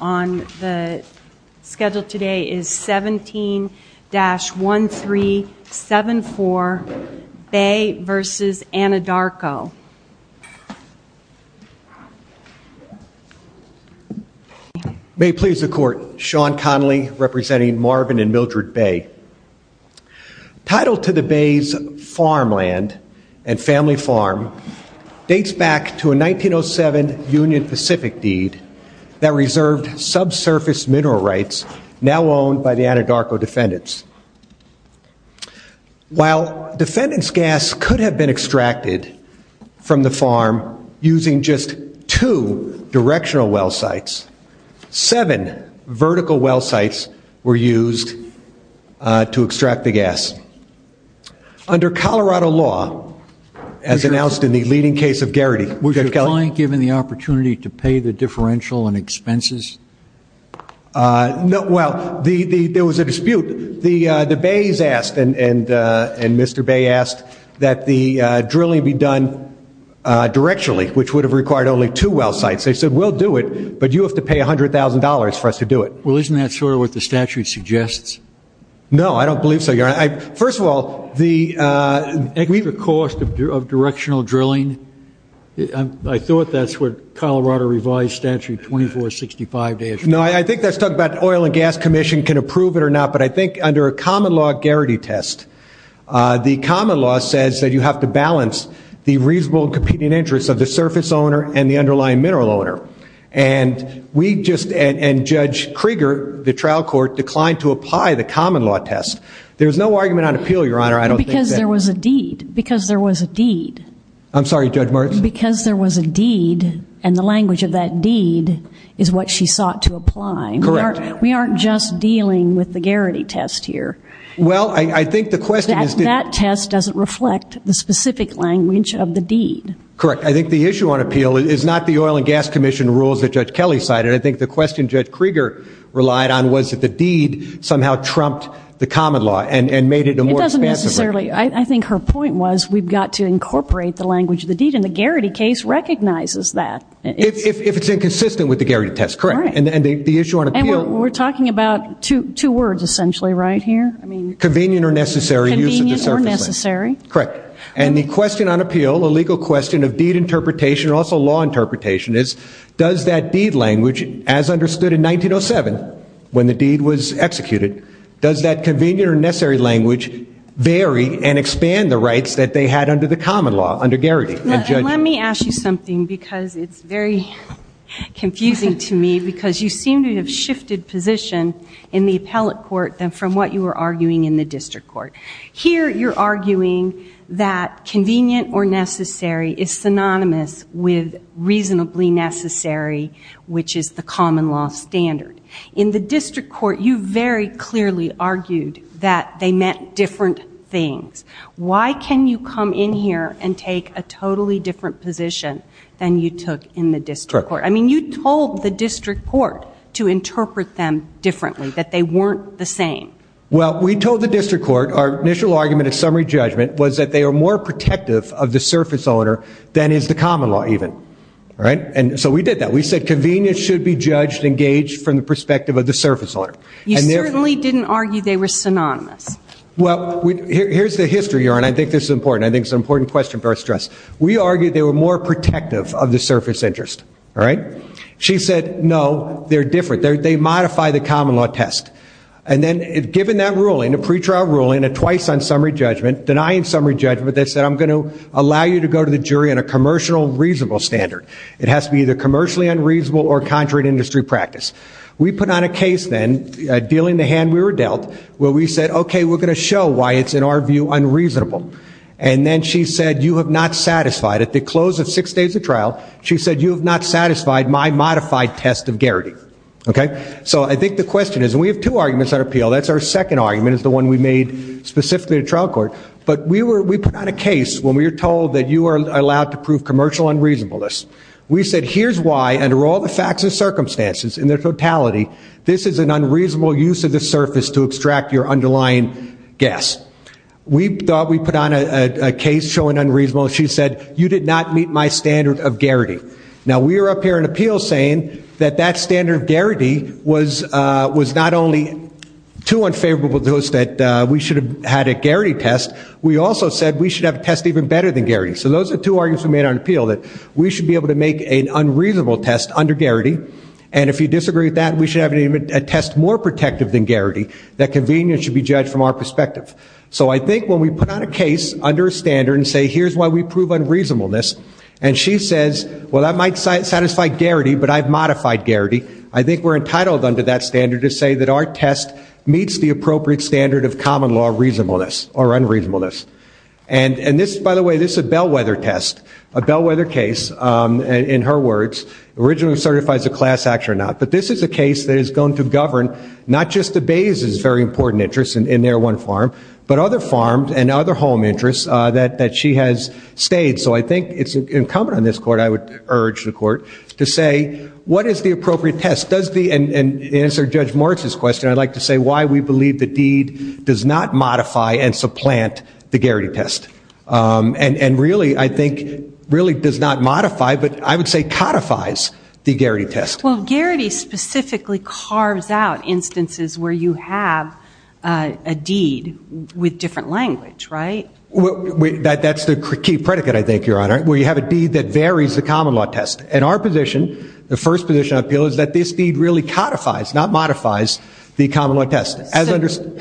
On the schedule today is 17-1374 Bay v. Anadarko May it please the court, Sean Connolly representing Marvin and Mildred Bay. Title to the Bay's farmland and family farm dates back to a 1907 Union Pacific deed that reserved subsurface mineral rights now owned by the Anadarko defendants. While defendants gas could have been extracted from the farm using just two directional well sites, seven vertical well sites were used to extract the gas. Under Colorado law, as announced in the leading case of Garrity, was your client given the opportunity to pay the differential and expenses? Well, there was a dispute. The Bays asked, and Mr. Bay asked, that the drilling be done directionally, which would have required only two well sites. They said, we'll do it, but you have to pay $100,000 for us to do it. Well, isn't that sort of what the statute suggests? No, I don't believe so, Your Honor. First of all, the cost of directional drilling, I thought that's what Colorado revised statute 2465 days ago. No, I think that's talking about the Oil and Gas Commission can approve it or not, but I think under a common law Garrity test, the common law says that you have to balance the reasonable and competing interests of the surface owner and the underlying mineral owner. And we just, and Judge Krieger, the trial court, declined to apply the common law test. There's no argument on appeal, Your Honor. Because there was a deed. Because there was a deed. I'm sorry, Judge Martz. Because there was a deed, and the language of that deed is what she sought to apply. Correct. We aren't just dealing with the Garrity test here. Well, I think the question is- That test doesn't reflect the specific language of the deed. Correct. I think the issue on appeal is not the Oil and Gas Commission rules that Judge Kelly cited. I think the question Judge Krieger relied on was that the deed somehow trumped the common law and made it a more expensive- I think her point was we've got to incorporate the language of the deed, and the Garrity case recognizes that. If it's inconsistent with the Garrity test, correct. All right. And the issue on appeal- And we're talking about two words, essentially, right here? Convenient or necessary use of the surface land. Convenient or necessary. Correct. And the question on appeal, the legal question of deed interpretation, also law interpretation, is does that deed language, as understood in 1907 when the deed was executed, does that convenient or necessary language vary and expand the rights that they had under the common law, under Garrity and Judge- Let me ask you something because it's very confusing to me, because you seem to have shifted position in the appellate court than from what you were arguing in the district court. Here, you're arguing that convenient or necessary is synonymous with reasonably necessary, which is the common law standard. In the district court, you very clearly argued that they meant different things. Why can you come in here and take a totally different position than you took in the district court? I mean, you told the district court to interpret them differently, that they weren't the same. Well, we told the district court our initial argument at summary judgment was that they were more protective of the surface owner than is the common law, even. All right? And so we did that. We said convenience should be judged and gauged from the perspective of the surface owner. You certainly didn't argue they were synonymous. Well, here's the history here, and I think this is important. I think it's an important question for us to address. We argued they were more protective of the surface interest. All right? She said, no, they're different. They modify the common law test. And then, given that ruling, a pretrial ruling, a twice on summary judgment, denying summary judgment, they said, I'm going to allow you to go to the jury on a commercial reasonable standard. It has to be either commercially unreasonable or contrary to industry practice. We put on a case then, dealing the hand we were dealt, where we said, okay, we're going to show why it's, in our view, unreasonable. And then she said, you have not satisfied, at the close of six days of trial, she said, you have not satisfied my modified test of guarantee. Okay? So I think the question is, and we have two arguments that appeal. That's our second argument is the one we made specifically to trial court. But we put on a case when we were told that you are allowed to prove commercial unreasonableness. We said, here's why, under all the facts and circumstances in their totality, this is an unreasonable use of the surface to extract your underlying guess. We thought we put on a case showing unreasonable. She said, you did not meet my standard of guarantee. Now, we are up here in appeals saying that that standard of guarantee was not only too unfavorable to us, that we should have had a guarantee test, we also said we should have a test even better than guarantee. So those are two arguments we made on appeal, that we should be able to make an unreasonable test under guarantee. And if you disagree with that, we should have a test more protective than guarantee, that convenience should be judged from our perspective. So I think when we put on a case under a standard and say, here's why we prove unreasonableness, and she says, well, that might satisfy guarantee, but I've modified guarantee, I think we're entitled under that standard to say that our test meets the appropriate standard of common law reasonableness, or unreasonableness. And this, by the way, this is a bellwether test, a bellwether case, in her words, originally certifies a class action or not. But this is a case that is going to govern not just the Bay's very important interests in their one farm, but other farms and other home interests that she has stayed. So I think it's incumbent on this court, I would urge the court, to say, what is the appropriate test? And to answer Judge Moritz's question, I'd like to say why we believe the deed does not modify and supplant the guarantee test. And really, I think, really does not modify, but I would say codifies the guarantee test. Well, guarantee specifically carves out instances where you have a deed with different language, right? That's the key predicate, I think, Your Honor, where you have a deed that varies the common law test. In our position, the first position of appeal is that this deed really codifies, not modifies, the common law test.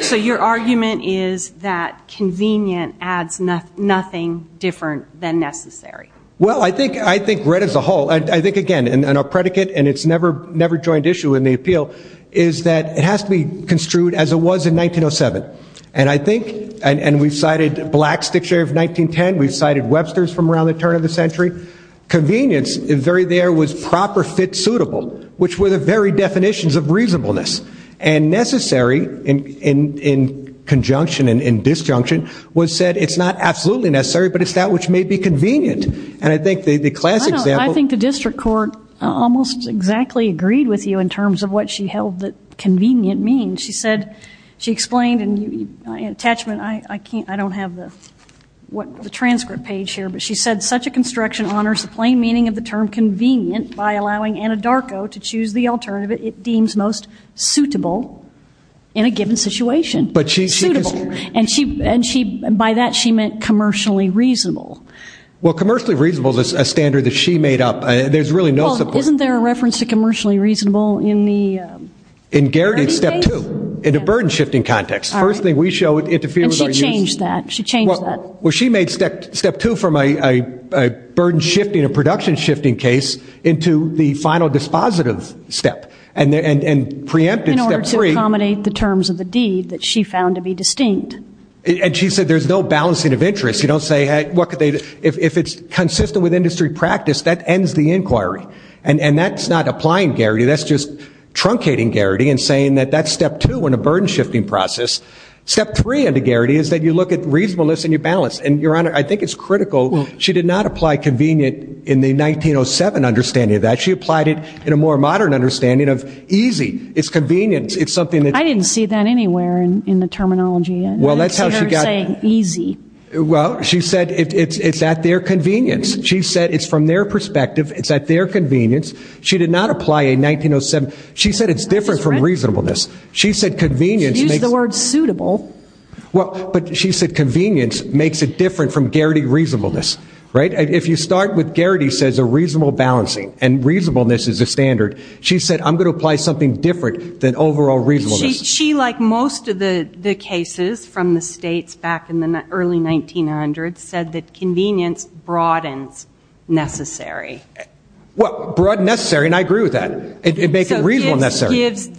So your argument is that convenient adds nothing different than necessary. Well, I think, read as a whole, I think, again, in our predicate, and it's never joined issue in the appeal, is that it has to be construed as it was in 1907. And I think, and we've cited Black's Dictionary of 1910, we've cited Webster's from around the turn of the century, convenience there was proper fit suitable, which were the very definitions of reasonableness. And necessary, in conjunction and disjunction, was said, it's not absolutely necessary, but it's that which may be convenient. And I think the classic example. I think the district court almost exactly agreed with you in terms of what she held that convenient means. She said, she explained in attachment, I don't have the transcript page here, but she said such a construction honors the plain meaning of the term convenient by allowing Anadarko to choose the alternative it deems most suitable in a given situation. Suitable. And by that she meant commercially reasonable. Well, commercially reasonable is a standard that she made up. There's really no support. Well, isn't there a reference to commercially reasonable in the verdict case? In Garrity's step two, in the burden shifting context. The first thing we show interferes with our use. And she changed that. She changed that. Well, she made step two from a burden shifting, a production shifting case, into the final dispositive step. And preempted step three. In order to accommodate the terms of the deed that she found to be distinct. And she said there's no balancing of interests. You don't say, hey, what could they, if it's consistent with industry practice, that ends the inquiry. And that's not applying Garrity. That's just truncating Garrity and saying that that's step two in a burden shifting process. Step three under Garrity is that you look at reasonableness and you balance. And, Your Honor, I think it's critical. She did not apply convenient in the 1907 understanding of that. She applied it in a more modern understanding of easy. It's convenience. It's something that. I didn't see that anywhere in the terminology. Well, that's how she got. I didn't see her saying easy. Well, she said it's at their convenience. She said it's from their perspective. It's at their convenience. She did not apply a 1907. She said it's different from reasonableness. She said convenience. She used the word suitable. Well, but she said convenience makes it different from Garrity reasonableness. Right? If you start with Garrity says a reasonable balancing and reasonableness is a standard. She said I'm going to apply something different than overall reasonableness. She, like most of the cases from the states back in the early 1900s, said that convenience broadens necessary. Well, broad necessary, and I agree with that. It makes it reasonable necessary. So this gives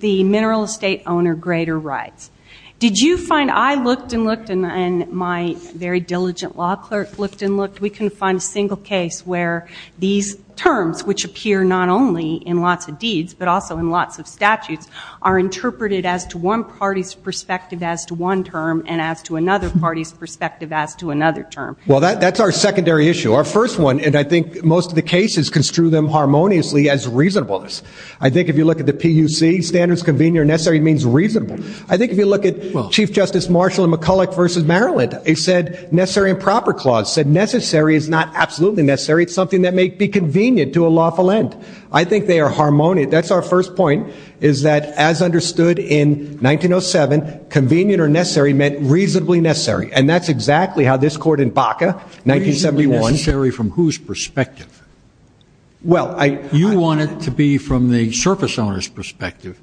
the mineral estate owner greater rights. Did you find I looked and looked and my very diligent law clerk looked and looked, we couldn't find a single case where these terms, which appear not only in lots of deeds, but also in lots of statutes, are interpreted as to one party's perspective as to one term and as to another party's perspective as to another term. Well, that's our secondary issue. Our first one, and I think most of the cases construe them harmoniously as reasonableness. I think if you look at the PUC, standards convenient or necessary means reasonable. I think if you look at Chief Justice Marshall and McCulloch v. Maryland, they said necessary and proper clause said necessary is not absolutely necessary. It's something that may be convenient to a lawful end. I think they are harmonious. That's our first point is that as understood in 1907, convenient or necessary meant reasonably necessary, and that's exactly how this court in Baca, 1971. Reasonably necessary from whose perspective? You want it to be from the surface owner's perspective,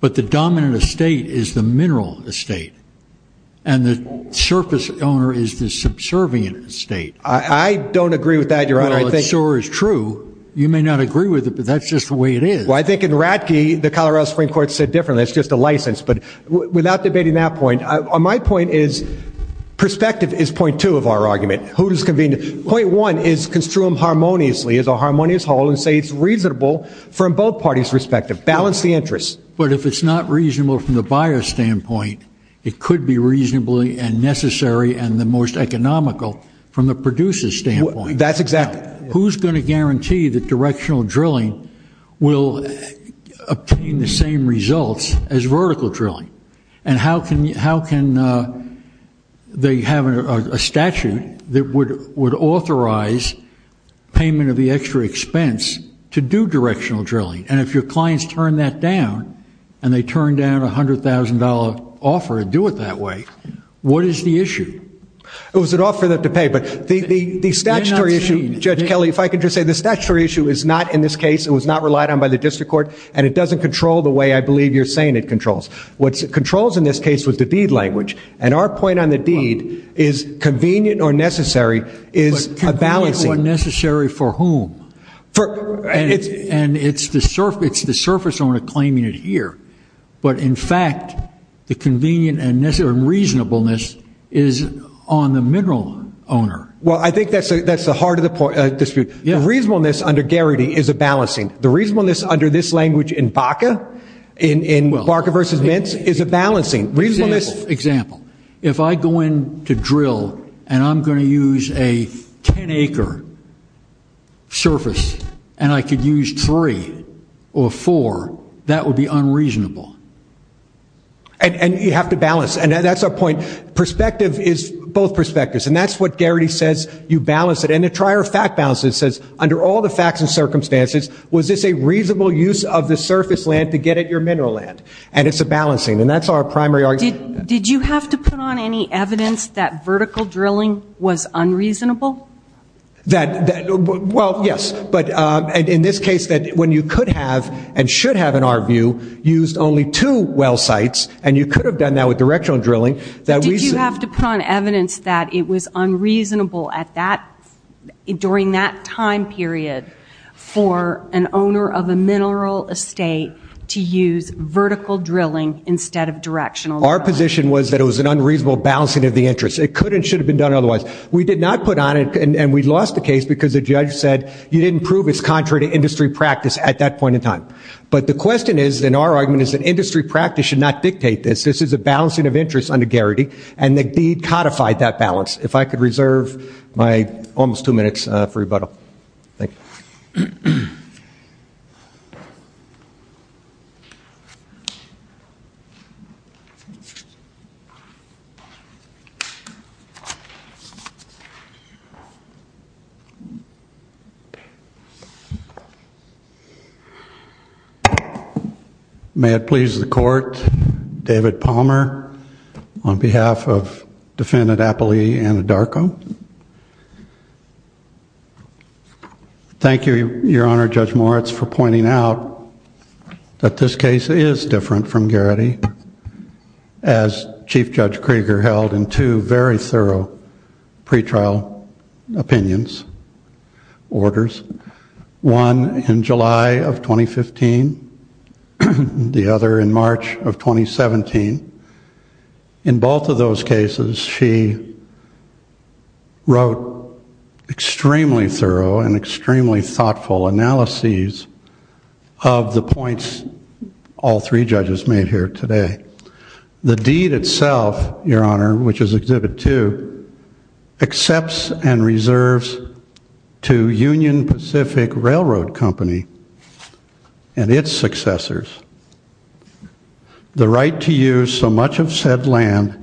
but the dominant estate is the mineral estate and the surface owner is the subservient estate. I don't agree with that, Your Honor. Well, it sure is true. You may not agree with it, but that's just the way it is. Well, I think in Ratke, the Colorado Supreme Court said differently. It's just a license. But without debating that point, my point is perspective is point two of our argument. Point one is construe them harmoniously as a harmonious whole and say it's reasonable from both parties' perspective. Balance the interests. But if it's not reasonable from the buyer's standpoint, it could be reasonably and necessary and the most economical from the producer's standpoint. That's exactly right. Who's going to guarantee that directional drilling will obtain the same results as vertical drilling? And how can they have a statute that would authorize payment of the extra expense to do directional drilling? And if your clients turn that down and they turn down a $100,000 offer to do it that way, what is the issue? It was an offer for them to pay, but the statutory issue, Judge Kelly, if I could just say the statutory issue is not in this case, it was not relied on by the district court, and it doesn't control the way I believe you're saying it controls. What it controls in this case was the deed language. And our point on the deed is convenient or necessary is a balancing. But convenient or necessary for whom? And it's the surface owner claiming it here. But, in fact, the convenient and reasonableness is on the mineral owner. Well, I think that's the heart of the dispute. The reasonableness under Garrity is a balancing. The reasonableness under this language in Baca, in Baca versus Mintz, is a balancing. Example. If I go in to drill and I'm going to use a 10-acre surface and I could use three or four, that would be unreasonable. And you have to balance. And that's our point. Perspective is both perspectives. And that's what Garrity says. You balance it. And the trier of fact balances says, under all the facts and circumstances, was this a reasonable use of the surface land to get at your mineral land? And it's a balancing. And that's our primary argument. Did you have to put on any evidence that vertical drilling was unreasonable? Well, yes. But in this case, when you could have and should have, in our view, used only two well sites, and you could have done that with directional drilling. Did you have to put on evidence that it was unreasonable during that time period for an owner of a mineral estate to use vertical drilling instead of directional drilling? Our position was that it was an unreasonable balancing of the interests. It could and should have been done otherwise. We did not put on it, and we lost the case because the judge said, you didn't prove it's contrary to industry practice at that point in time. But the question is, and our argument is, that industry practice should not dictate this. This is a balancing of interests under Garrity. And the deed codified that balance. If I could reserve my almost two minutes for rebuttal. Thank you. May it please the court. David Palmer on behalf of Defendant Appley Anadarko. Thank you, Your Honor, Judge Moritz, for pointing out that this case is different from Garrity, as Chief Judge Krieger held in two very thorough pretrial opinions, orders. One in July of 2015, the other in March of 2017. In both of those cases, she wrote extremely thorough and extremely thoughtful analyses of the points all three judges made here today. The deed itself, Your Honor, which is Exhibit 2, accepts and reserves to Union Pacific Railroad Company and its successors the right to use so much of said land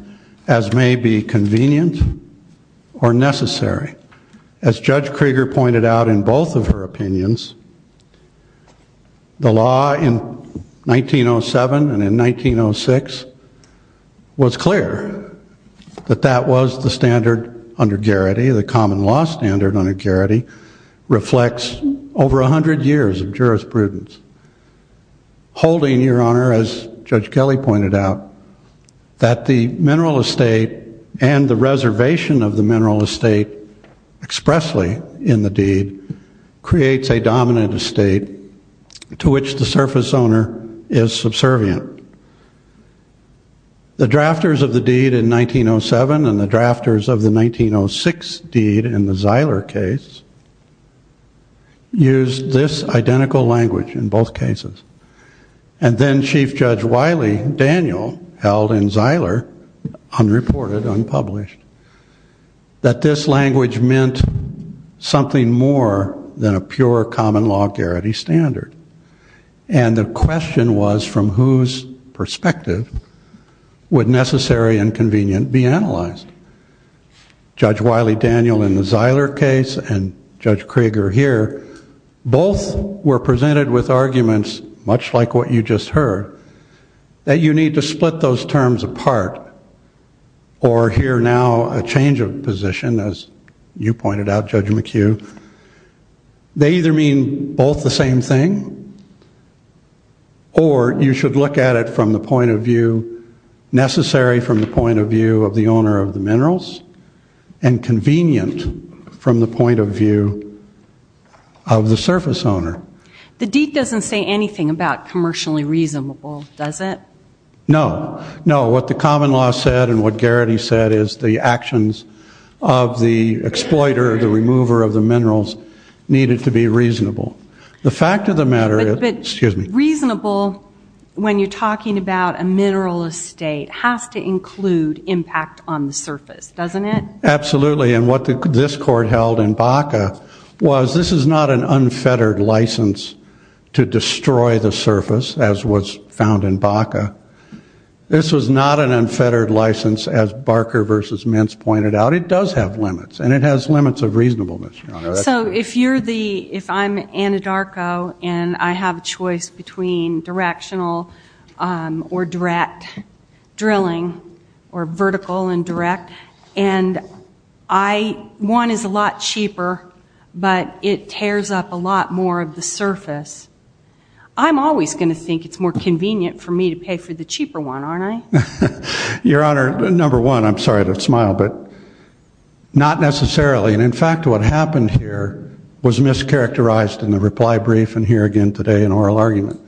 as may be convenient or necessary. As Judge Krieger pointed out in both of her opinions, the law in 1907 and in 1906 was clear that that was the standard under Garrity. The common law standard under Garrity reflects over a hundred years of jurisprudence. Holding, Your Honor, as Judge Kelley pointed out, that the mineral estate and the reservation of the mineral estate expressly in the deed creates a dominant estate to which the surface owner is subservient. The drafters of the deed in 1907 and the drafters of the 1906 deed in the Zeiler case used this identical language in both cases. And then Chief Judge Wiley Daniel held in Zeiler, unreported, unpublished, that this language meant something more than a pure common law Garrity standard. And the question was from whose perspective would necessary and convenient be analyzed? Judge Wiley Daniel in the Zeiler case and Judge Krieger here both were presented with arguments, much like what you just heard, that you need to split those terms apart or hear now a change of position, as you pointed out, Judge McHugh. They either mean both the same thing or you should look at it from the point of view necessary, from the point of view of the owner of the minerals, and convenient from the point of view of the surface owner. The deed doesn't say anything about commercially reasonable, does it? No. No. What the common law said and what Garrity said is the actions of the exploiter, the remover of the minerals, needed to be reasonable. The fact of the matter is, excuse me. Reasonable, when you're talking about a mineral estate, has to include impact on the surface, doesn't it? Absolutely. And what this Court held in Baca was this is not an unfettered license to destroy the surface, as was found in Baca. This was not an unfettered license, as Barker v. Mintz pointed out. It does have limits, and it has limits of reasonableness, Your Honor. So if you're the, if I'm Anadarko and I have a choice between directional or direct drilling, or vertical and direct, and one is a lot cheaper, but it tears up a lot more of the surface, I'm always going to think it's more convenient for me to pay for the cheaper one, aren't I? Your Honor, number one, I'm sorry to smile, but not necessarily. And, in fact, what happened here was mischaracterized in the reply brief and here again today in oral argument.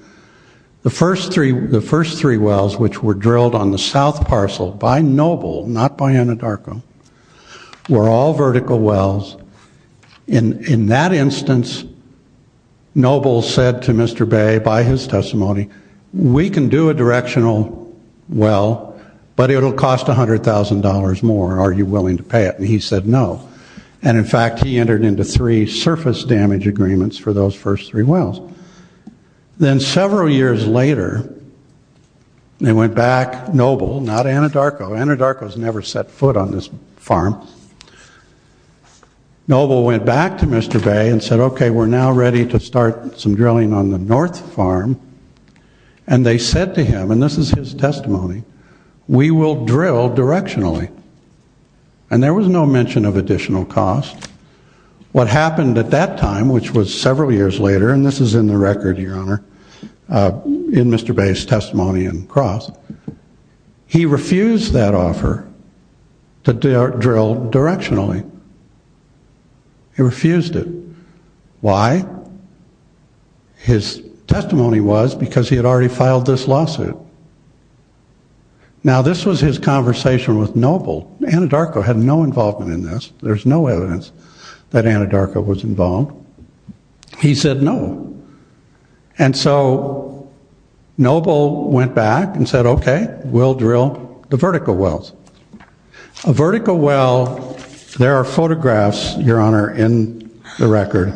The first three wells which were drilled on the south parcel by Noble, not by Anadarko, were all vertical wells. In that instance, Noble said to Mr. Bay, by his testimony, we can do a directional well, but it'll cost $100,000 more. Are you willing to pay it? And he said no. And, in fact, he entered into three surface damage agreements for those first three wells. Then several years later, they went back, Noble, not Anadarko. Anadarko's never set foot on this farm. Noble went back to Mr. Bay and said, okay, we're now ready to start some drilling on the north farm. And they said to him, and this is his testimony, we will drill directionally. And there was no mention of additional cost. What happened at that time, which was several years later, and this is in the record, Your Honor, in Mr. Bay's testimony and cross, he refused that offer to drill directionally. He refused it. Why? His testimony was because he had already filed this lawsuit. Now, this was his conversation with Noble. Anadarko had no involvement in this. There's no evidence that Anadarko was involved. He said no. And so Noble went back and said, okay, we'll drill the vertical wells. A vertical well, there are photographs, Your Honor, in the record,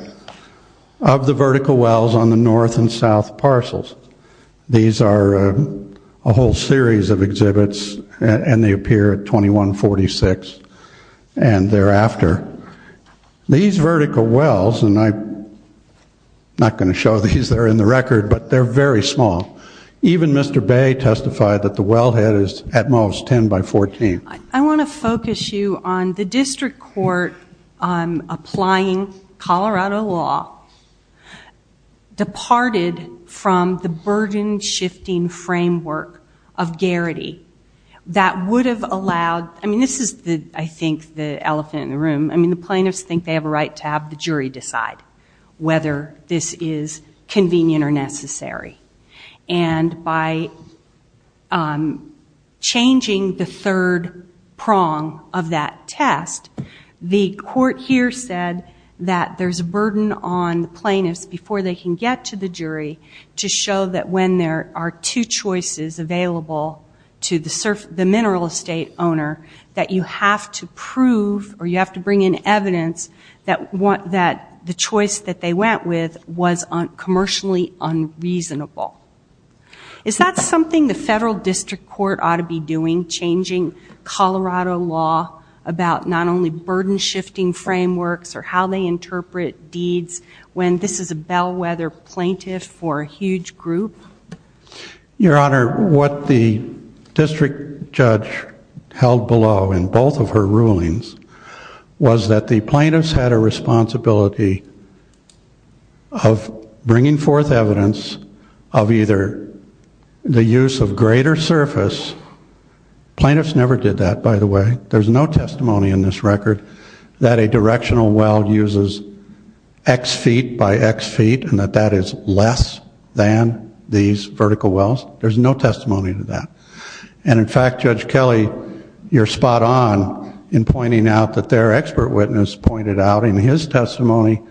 of the vertical wells on the north and south parcels. These are a whole series of exhibits, and they appear at 2146 and thereafter. These vertical wells, and I'm not going to show these. They're in the record, but they're very small. Even Mr. Bay testified that the wellhead is at most 10 by 14. I want to focus you on the district court applying Colorado law departed from the burden-shifting framework of Garrity that would have allowed, I mean, this is, I think, the elephant in the room. I mean, the plaintiffs think they have a right to have the jury decide whether this is convenient or necessary. And by changing the third prong of that test, the court here said that there's a burden on the plaintiffs before they can get to the jury to show that when there are two choices available to the mineral estate owner, that you have to prove, or you have to bring in evidence, that the choice that they went with was commercially unreasonable. Is that something the federal district court ought to be doing, changing Colorado law about not only burden-shifting frameworks or how they interpret deeds when this is a bellwether plaintiff for a huge group? Your Honor, what the district judge held below in both of her rulings was that the plaintiffs had a responsibility of bringing forth evidence of either the use of greater surface. Plaintiffs never did that, by the way. There's no testimony in this record that a directional well uses X feet by X feet and that that is less than these vertical wells. There's no testimony to that. And, in fact, Judge Kelley, you're spot on in pointing out that their expert witness pointed out in his testimony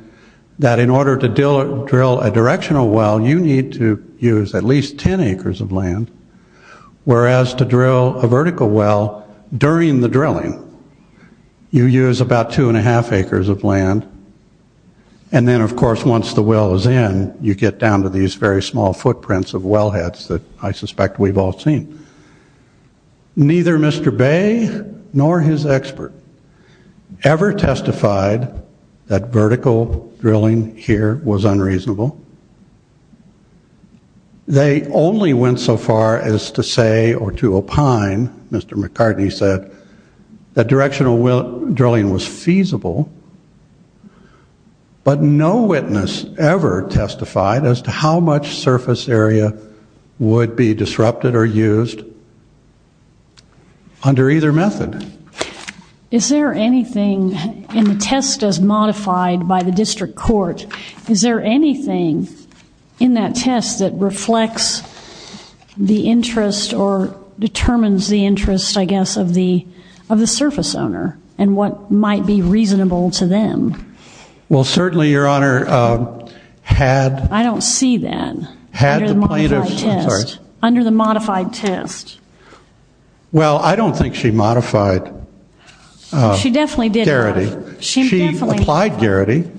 that in order to drill a directional well, you need to use at least 10 acres of land, whereas to drill a vertical well during the drilling, you use about 2 1⁄2 acres of land. And then, of course, once the well is in, you get down to these very small footprints of wellheads that I suspect we've all seen. Neither Mr. Bay nor his expert ever testified that vertical drilling here was unreasonable. They only went so far as to say or to opine, Mr. McCartney said, that directional drilling was feasible, but no witness ever testified as to how much surface area would be disrupted or used under either method. Is there anything in the test as modified by the district court, is there anything in that test that reflects the interest or determines the interest, I guess, of the surface owner and what might be reasonable to them? Well, certainly, Your Honor, had... I don't see that under the modified test. Well, I don't think she modified Garrity. She definitely did not. She applied Garrity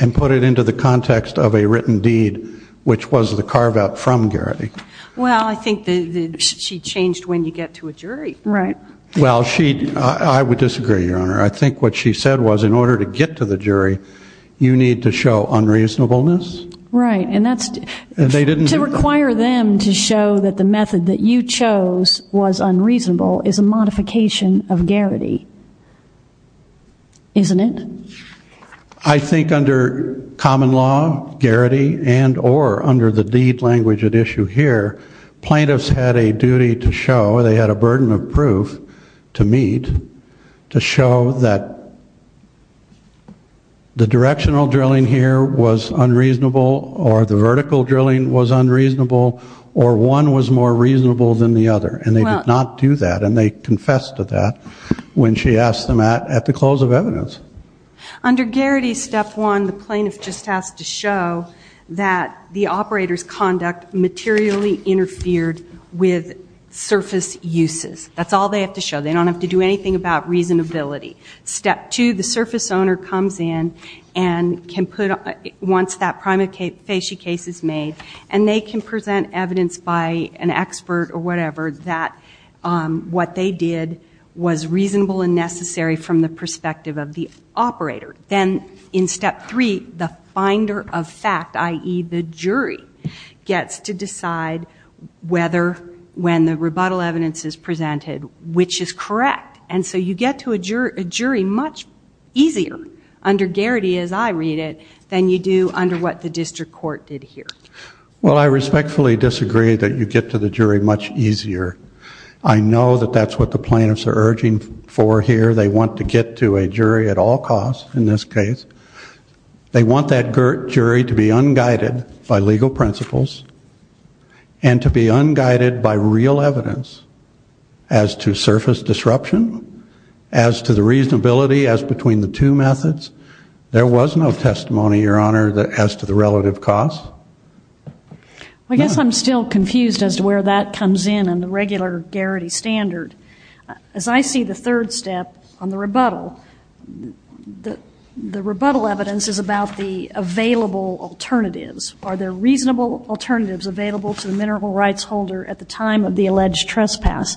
and put it into the context of a written deed, which was the carve-out from Garrity. Well, I think she changed when you get to a jury. Right. Well, she... I would disagree, Your Honor. I think what she said was in order to get to the jury, you need to show unreasonableness. Right, and that's... And they didn't... To require them to show that the method that you chose was unreasonable is a modification of Garrity. Isn't it? I think under common law, Garrity, and or under the deed language at issue here, plaintiffs had a duty to show, they had a burden of proof to meet, to show that the directional drilling here was unreasonable or the vertical drilling was unreasonable or one was more reasonable than the other. And they did not do that, and they confessed to that when she asked them at the close of evidence. Under Garrity, Step 1, the plaintiff just has to show that the operator's conduct materially interfered with surface uses. That's all they have to show. They don't have to do anything about reasonability. Step 2, the surface owner comes in and can put, once that prima facie case is made, and they can present evidence by an expert or whatever that what they did was reasonable and necessary from the perspective of the operator. Then in Step 3, the finder of fact, i.e., the jury, gets to decide whether when the rebuttal evidence is presented, which is correct. And so you get to a jury much easier under Garrity, as I read it, than you do under what the district court did here. Well, I respectfully disagree that you get to the jury much easier. I know that that's what the plaintiffs are urging for here. They want to get to a jury at all costs in this case. They want that jury to be unguided by legal principles and to be unguided by real evidence as to surface disruption, as to the reasonability as between the two methods. There was no testimony, Your Honor, as to the relative cost. I guess I'm still confused as to where that comes in under regular Garrity standard. As I see the third step on the rebuttal, the rebuttal evidence is about the available alternatives. Are there reasonable alternatives available to the mineral rights holder at the time of the alleged trespass?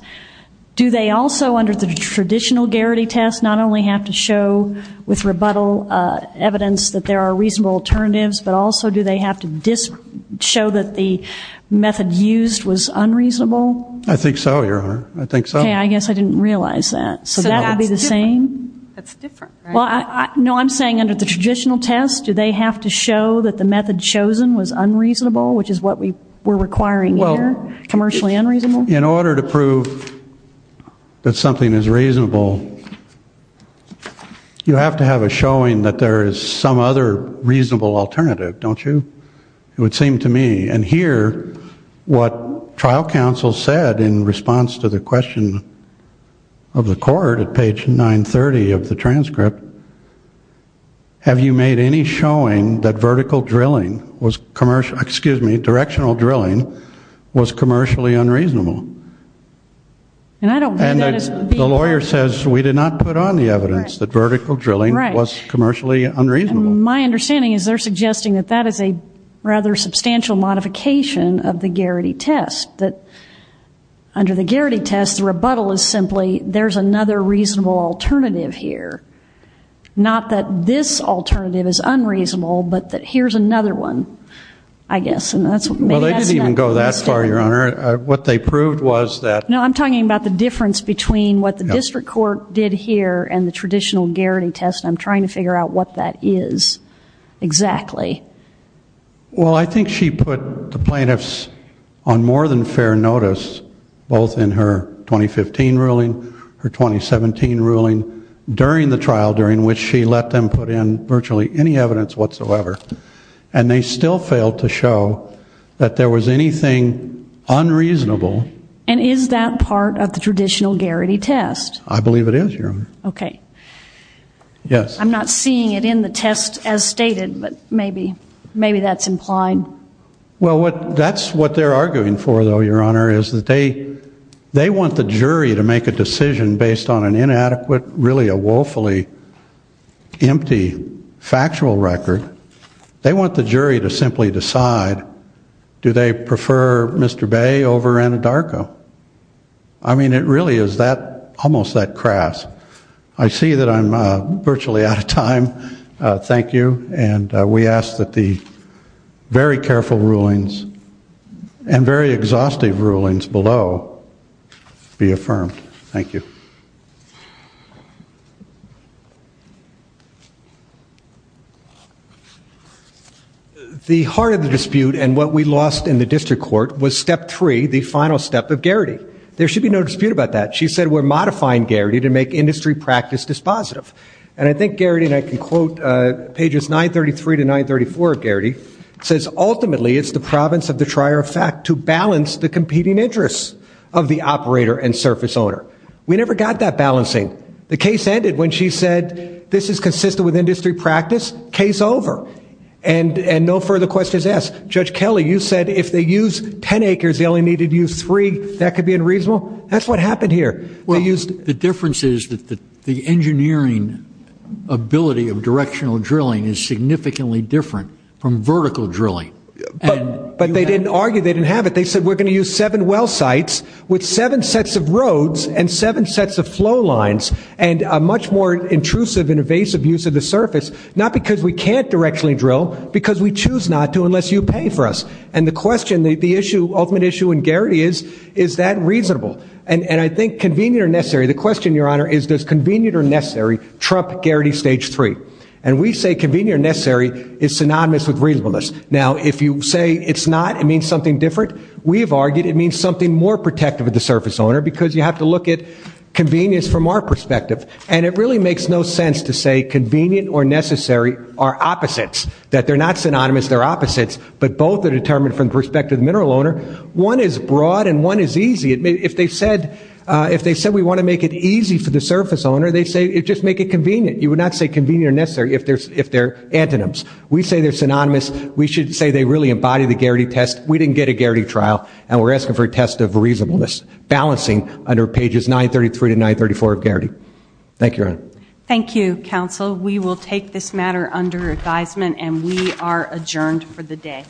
Do they also, under the traditional Garrity test, not only have to show with rebuttal evidence that there are reasonable alternatives, but also do they have to show that the method used was unreasonable? I think so, Your Honor. I think so. Okay, I guess I didn't realize that. So that would be the same? That's different, right? No, I'm saying under the traditional test, do they have to show that the method chosen was unreasonable, which is what we're requiring here, commercially unreasonable? In order to prove that something is reasonable, you have to have a showing that there is some other reasonable alternative, don't you? It would seem to me. And here, what trial counsel said in response to the question of the court at page 930 of the transcript, have you made any showing that vertical drilling was commercially unreasonable? The lawyer says we did not put on the evidence that vertical drilling was commercially unreasonable. My understanding is they're suggesting that that is a rather substantial modification of the Garrity test, that under the Garrity test, the rebuttal is simply there's another reasonable alternative here, not that this alternative is unreasonable, but that here's another one, I guess. Well, they didn't even go that far, Your Honor. What they proved was that... No, I'm talking about the difference between what the district court did here and the traditional Garrity test, and I'm trying to figure out what that is exactly. Well, I think she put the plaintiffs on more than fair notice, both in her 2015 ruling, her 2017 ruling, during the trial during which she let them put in virtually any evidence whatsoever, and they still failed to show that there was anything unreasonable. And is that part of the traditional Garrity test? I believe it is, Your Honor. Okay. Yes. I'm not seeing it in the test as stated, but maybe that's implied. Well, that's what they're arguing for, though, Your Honor, is that they want the jury to make a decision based on an inadequate, really a woefully empty factual record. They want the jury to simply decide, do they prefer Mr. Bay over Anadarko? I mean, it really is almost that crass. I see that I'm virtually out of time. Thank you. And we ask that the very careful rulings and very exhaustive rulings below be affirmed. Thank you. The heart of the dispute and what we lost in the district court was step three, the final step of Garrity. There should be no dispute about that. She said we're modifying Garrity to make industry practice dispositive. And I think Garrity, and I can quote pages 933 to 934 of Garrity, says, ultimately, it's the province of the trier of fact to balance the competing interests of the operator and surface owner. We never got that balancing. The case ended when she said this is consistent with industry practice. Case over. And no further questions asked. Judge Kelly, you said if they use 10 acres, they only needed to use three. That could be unreasonable. That's what happened here. Well, the difference is that the engineering ability of directional drilling is significantly different from vertical drilling. But they didn't argue. They didn't have it. They said we're going to use seven well sites with seven sets of roads and seven sets of flow lines and a much more intrusive and evasive use of the surface, not because we can't directionally drill, because we choose not to unless you pay for us. And the question, the ultimate issue in Garrity is, is that reasonable? And I think convenient or necessary, the question, Your Honor, is does convenient or necessary trump Garrity stage three? And we say convenient or necessary is synonymous with reasonableness. Now, if you say it's not, it means something different. We have argued it means something more protective of the surface owner because you have to look at convenience from our perspective. And it really makes no sense to say convenient or necessary are opposites, that they're not synonymous, they're opposites, but both are determined from the perspective of the mineral owner. One is broad and one is easy. If they said we want to make it easy for the surface owner, they say just make it convenient. You would not say convenient or necessary if they're antonyms. We say they're synonymous. We should say they really embody the Garrity test. We didn't get a Garrity trial, and we're asking for a test of reasonableness, balancing under pages 933 to 934 of Garrity. Thank you, Your Honor. Thank you, counsel. We will take this matter under advisement, and we are adjourned for the day.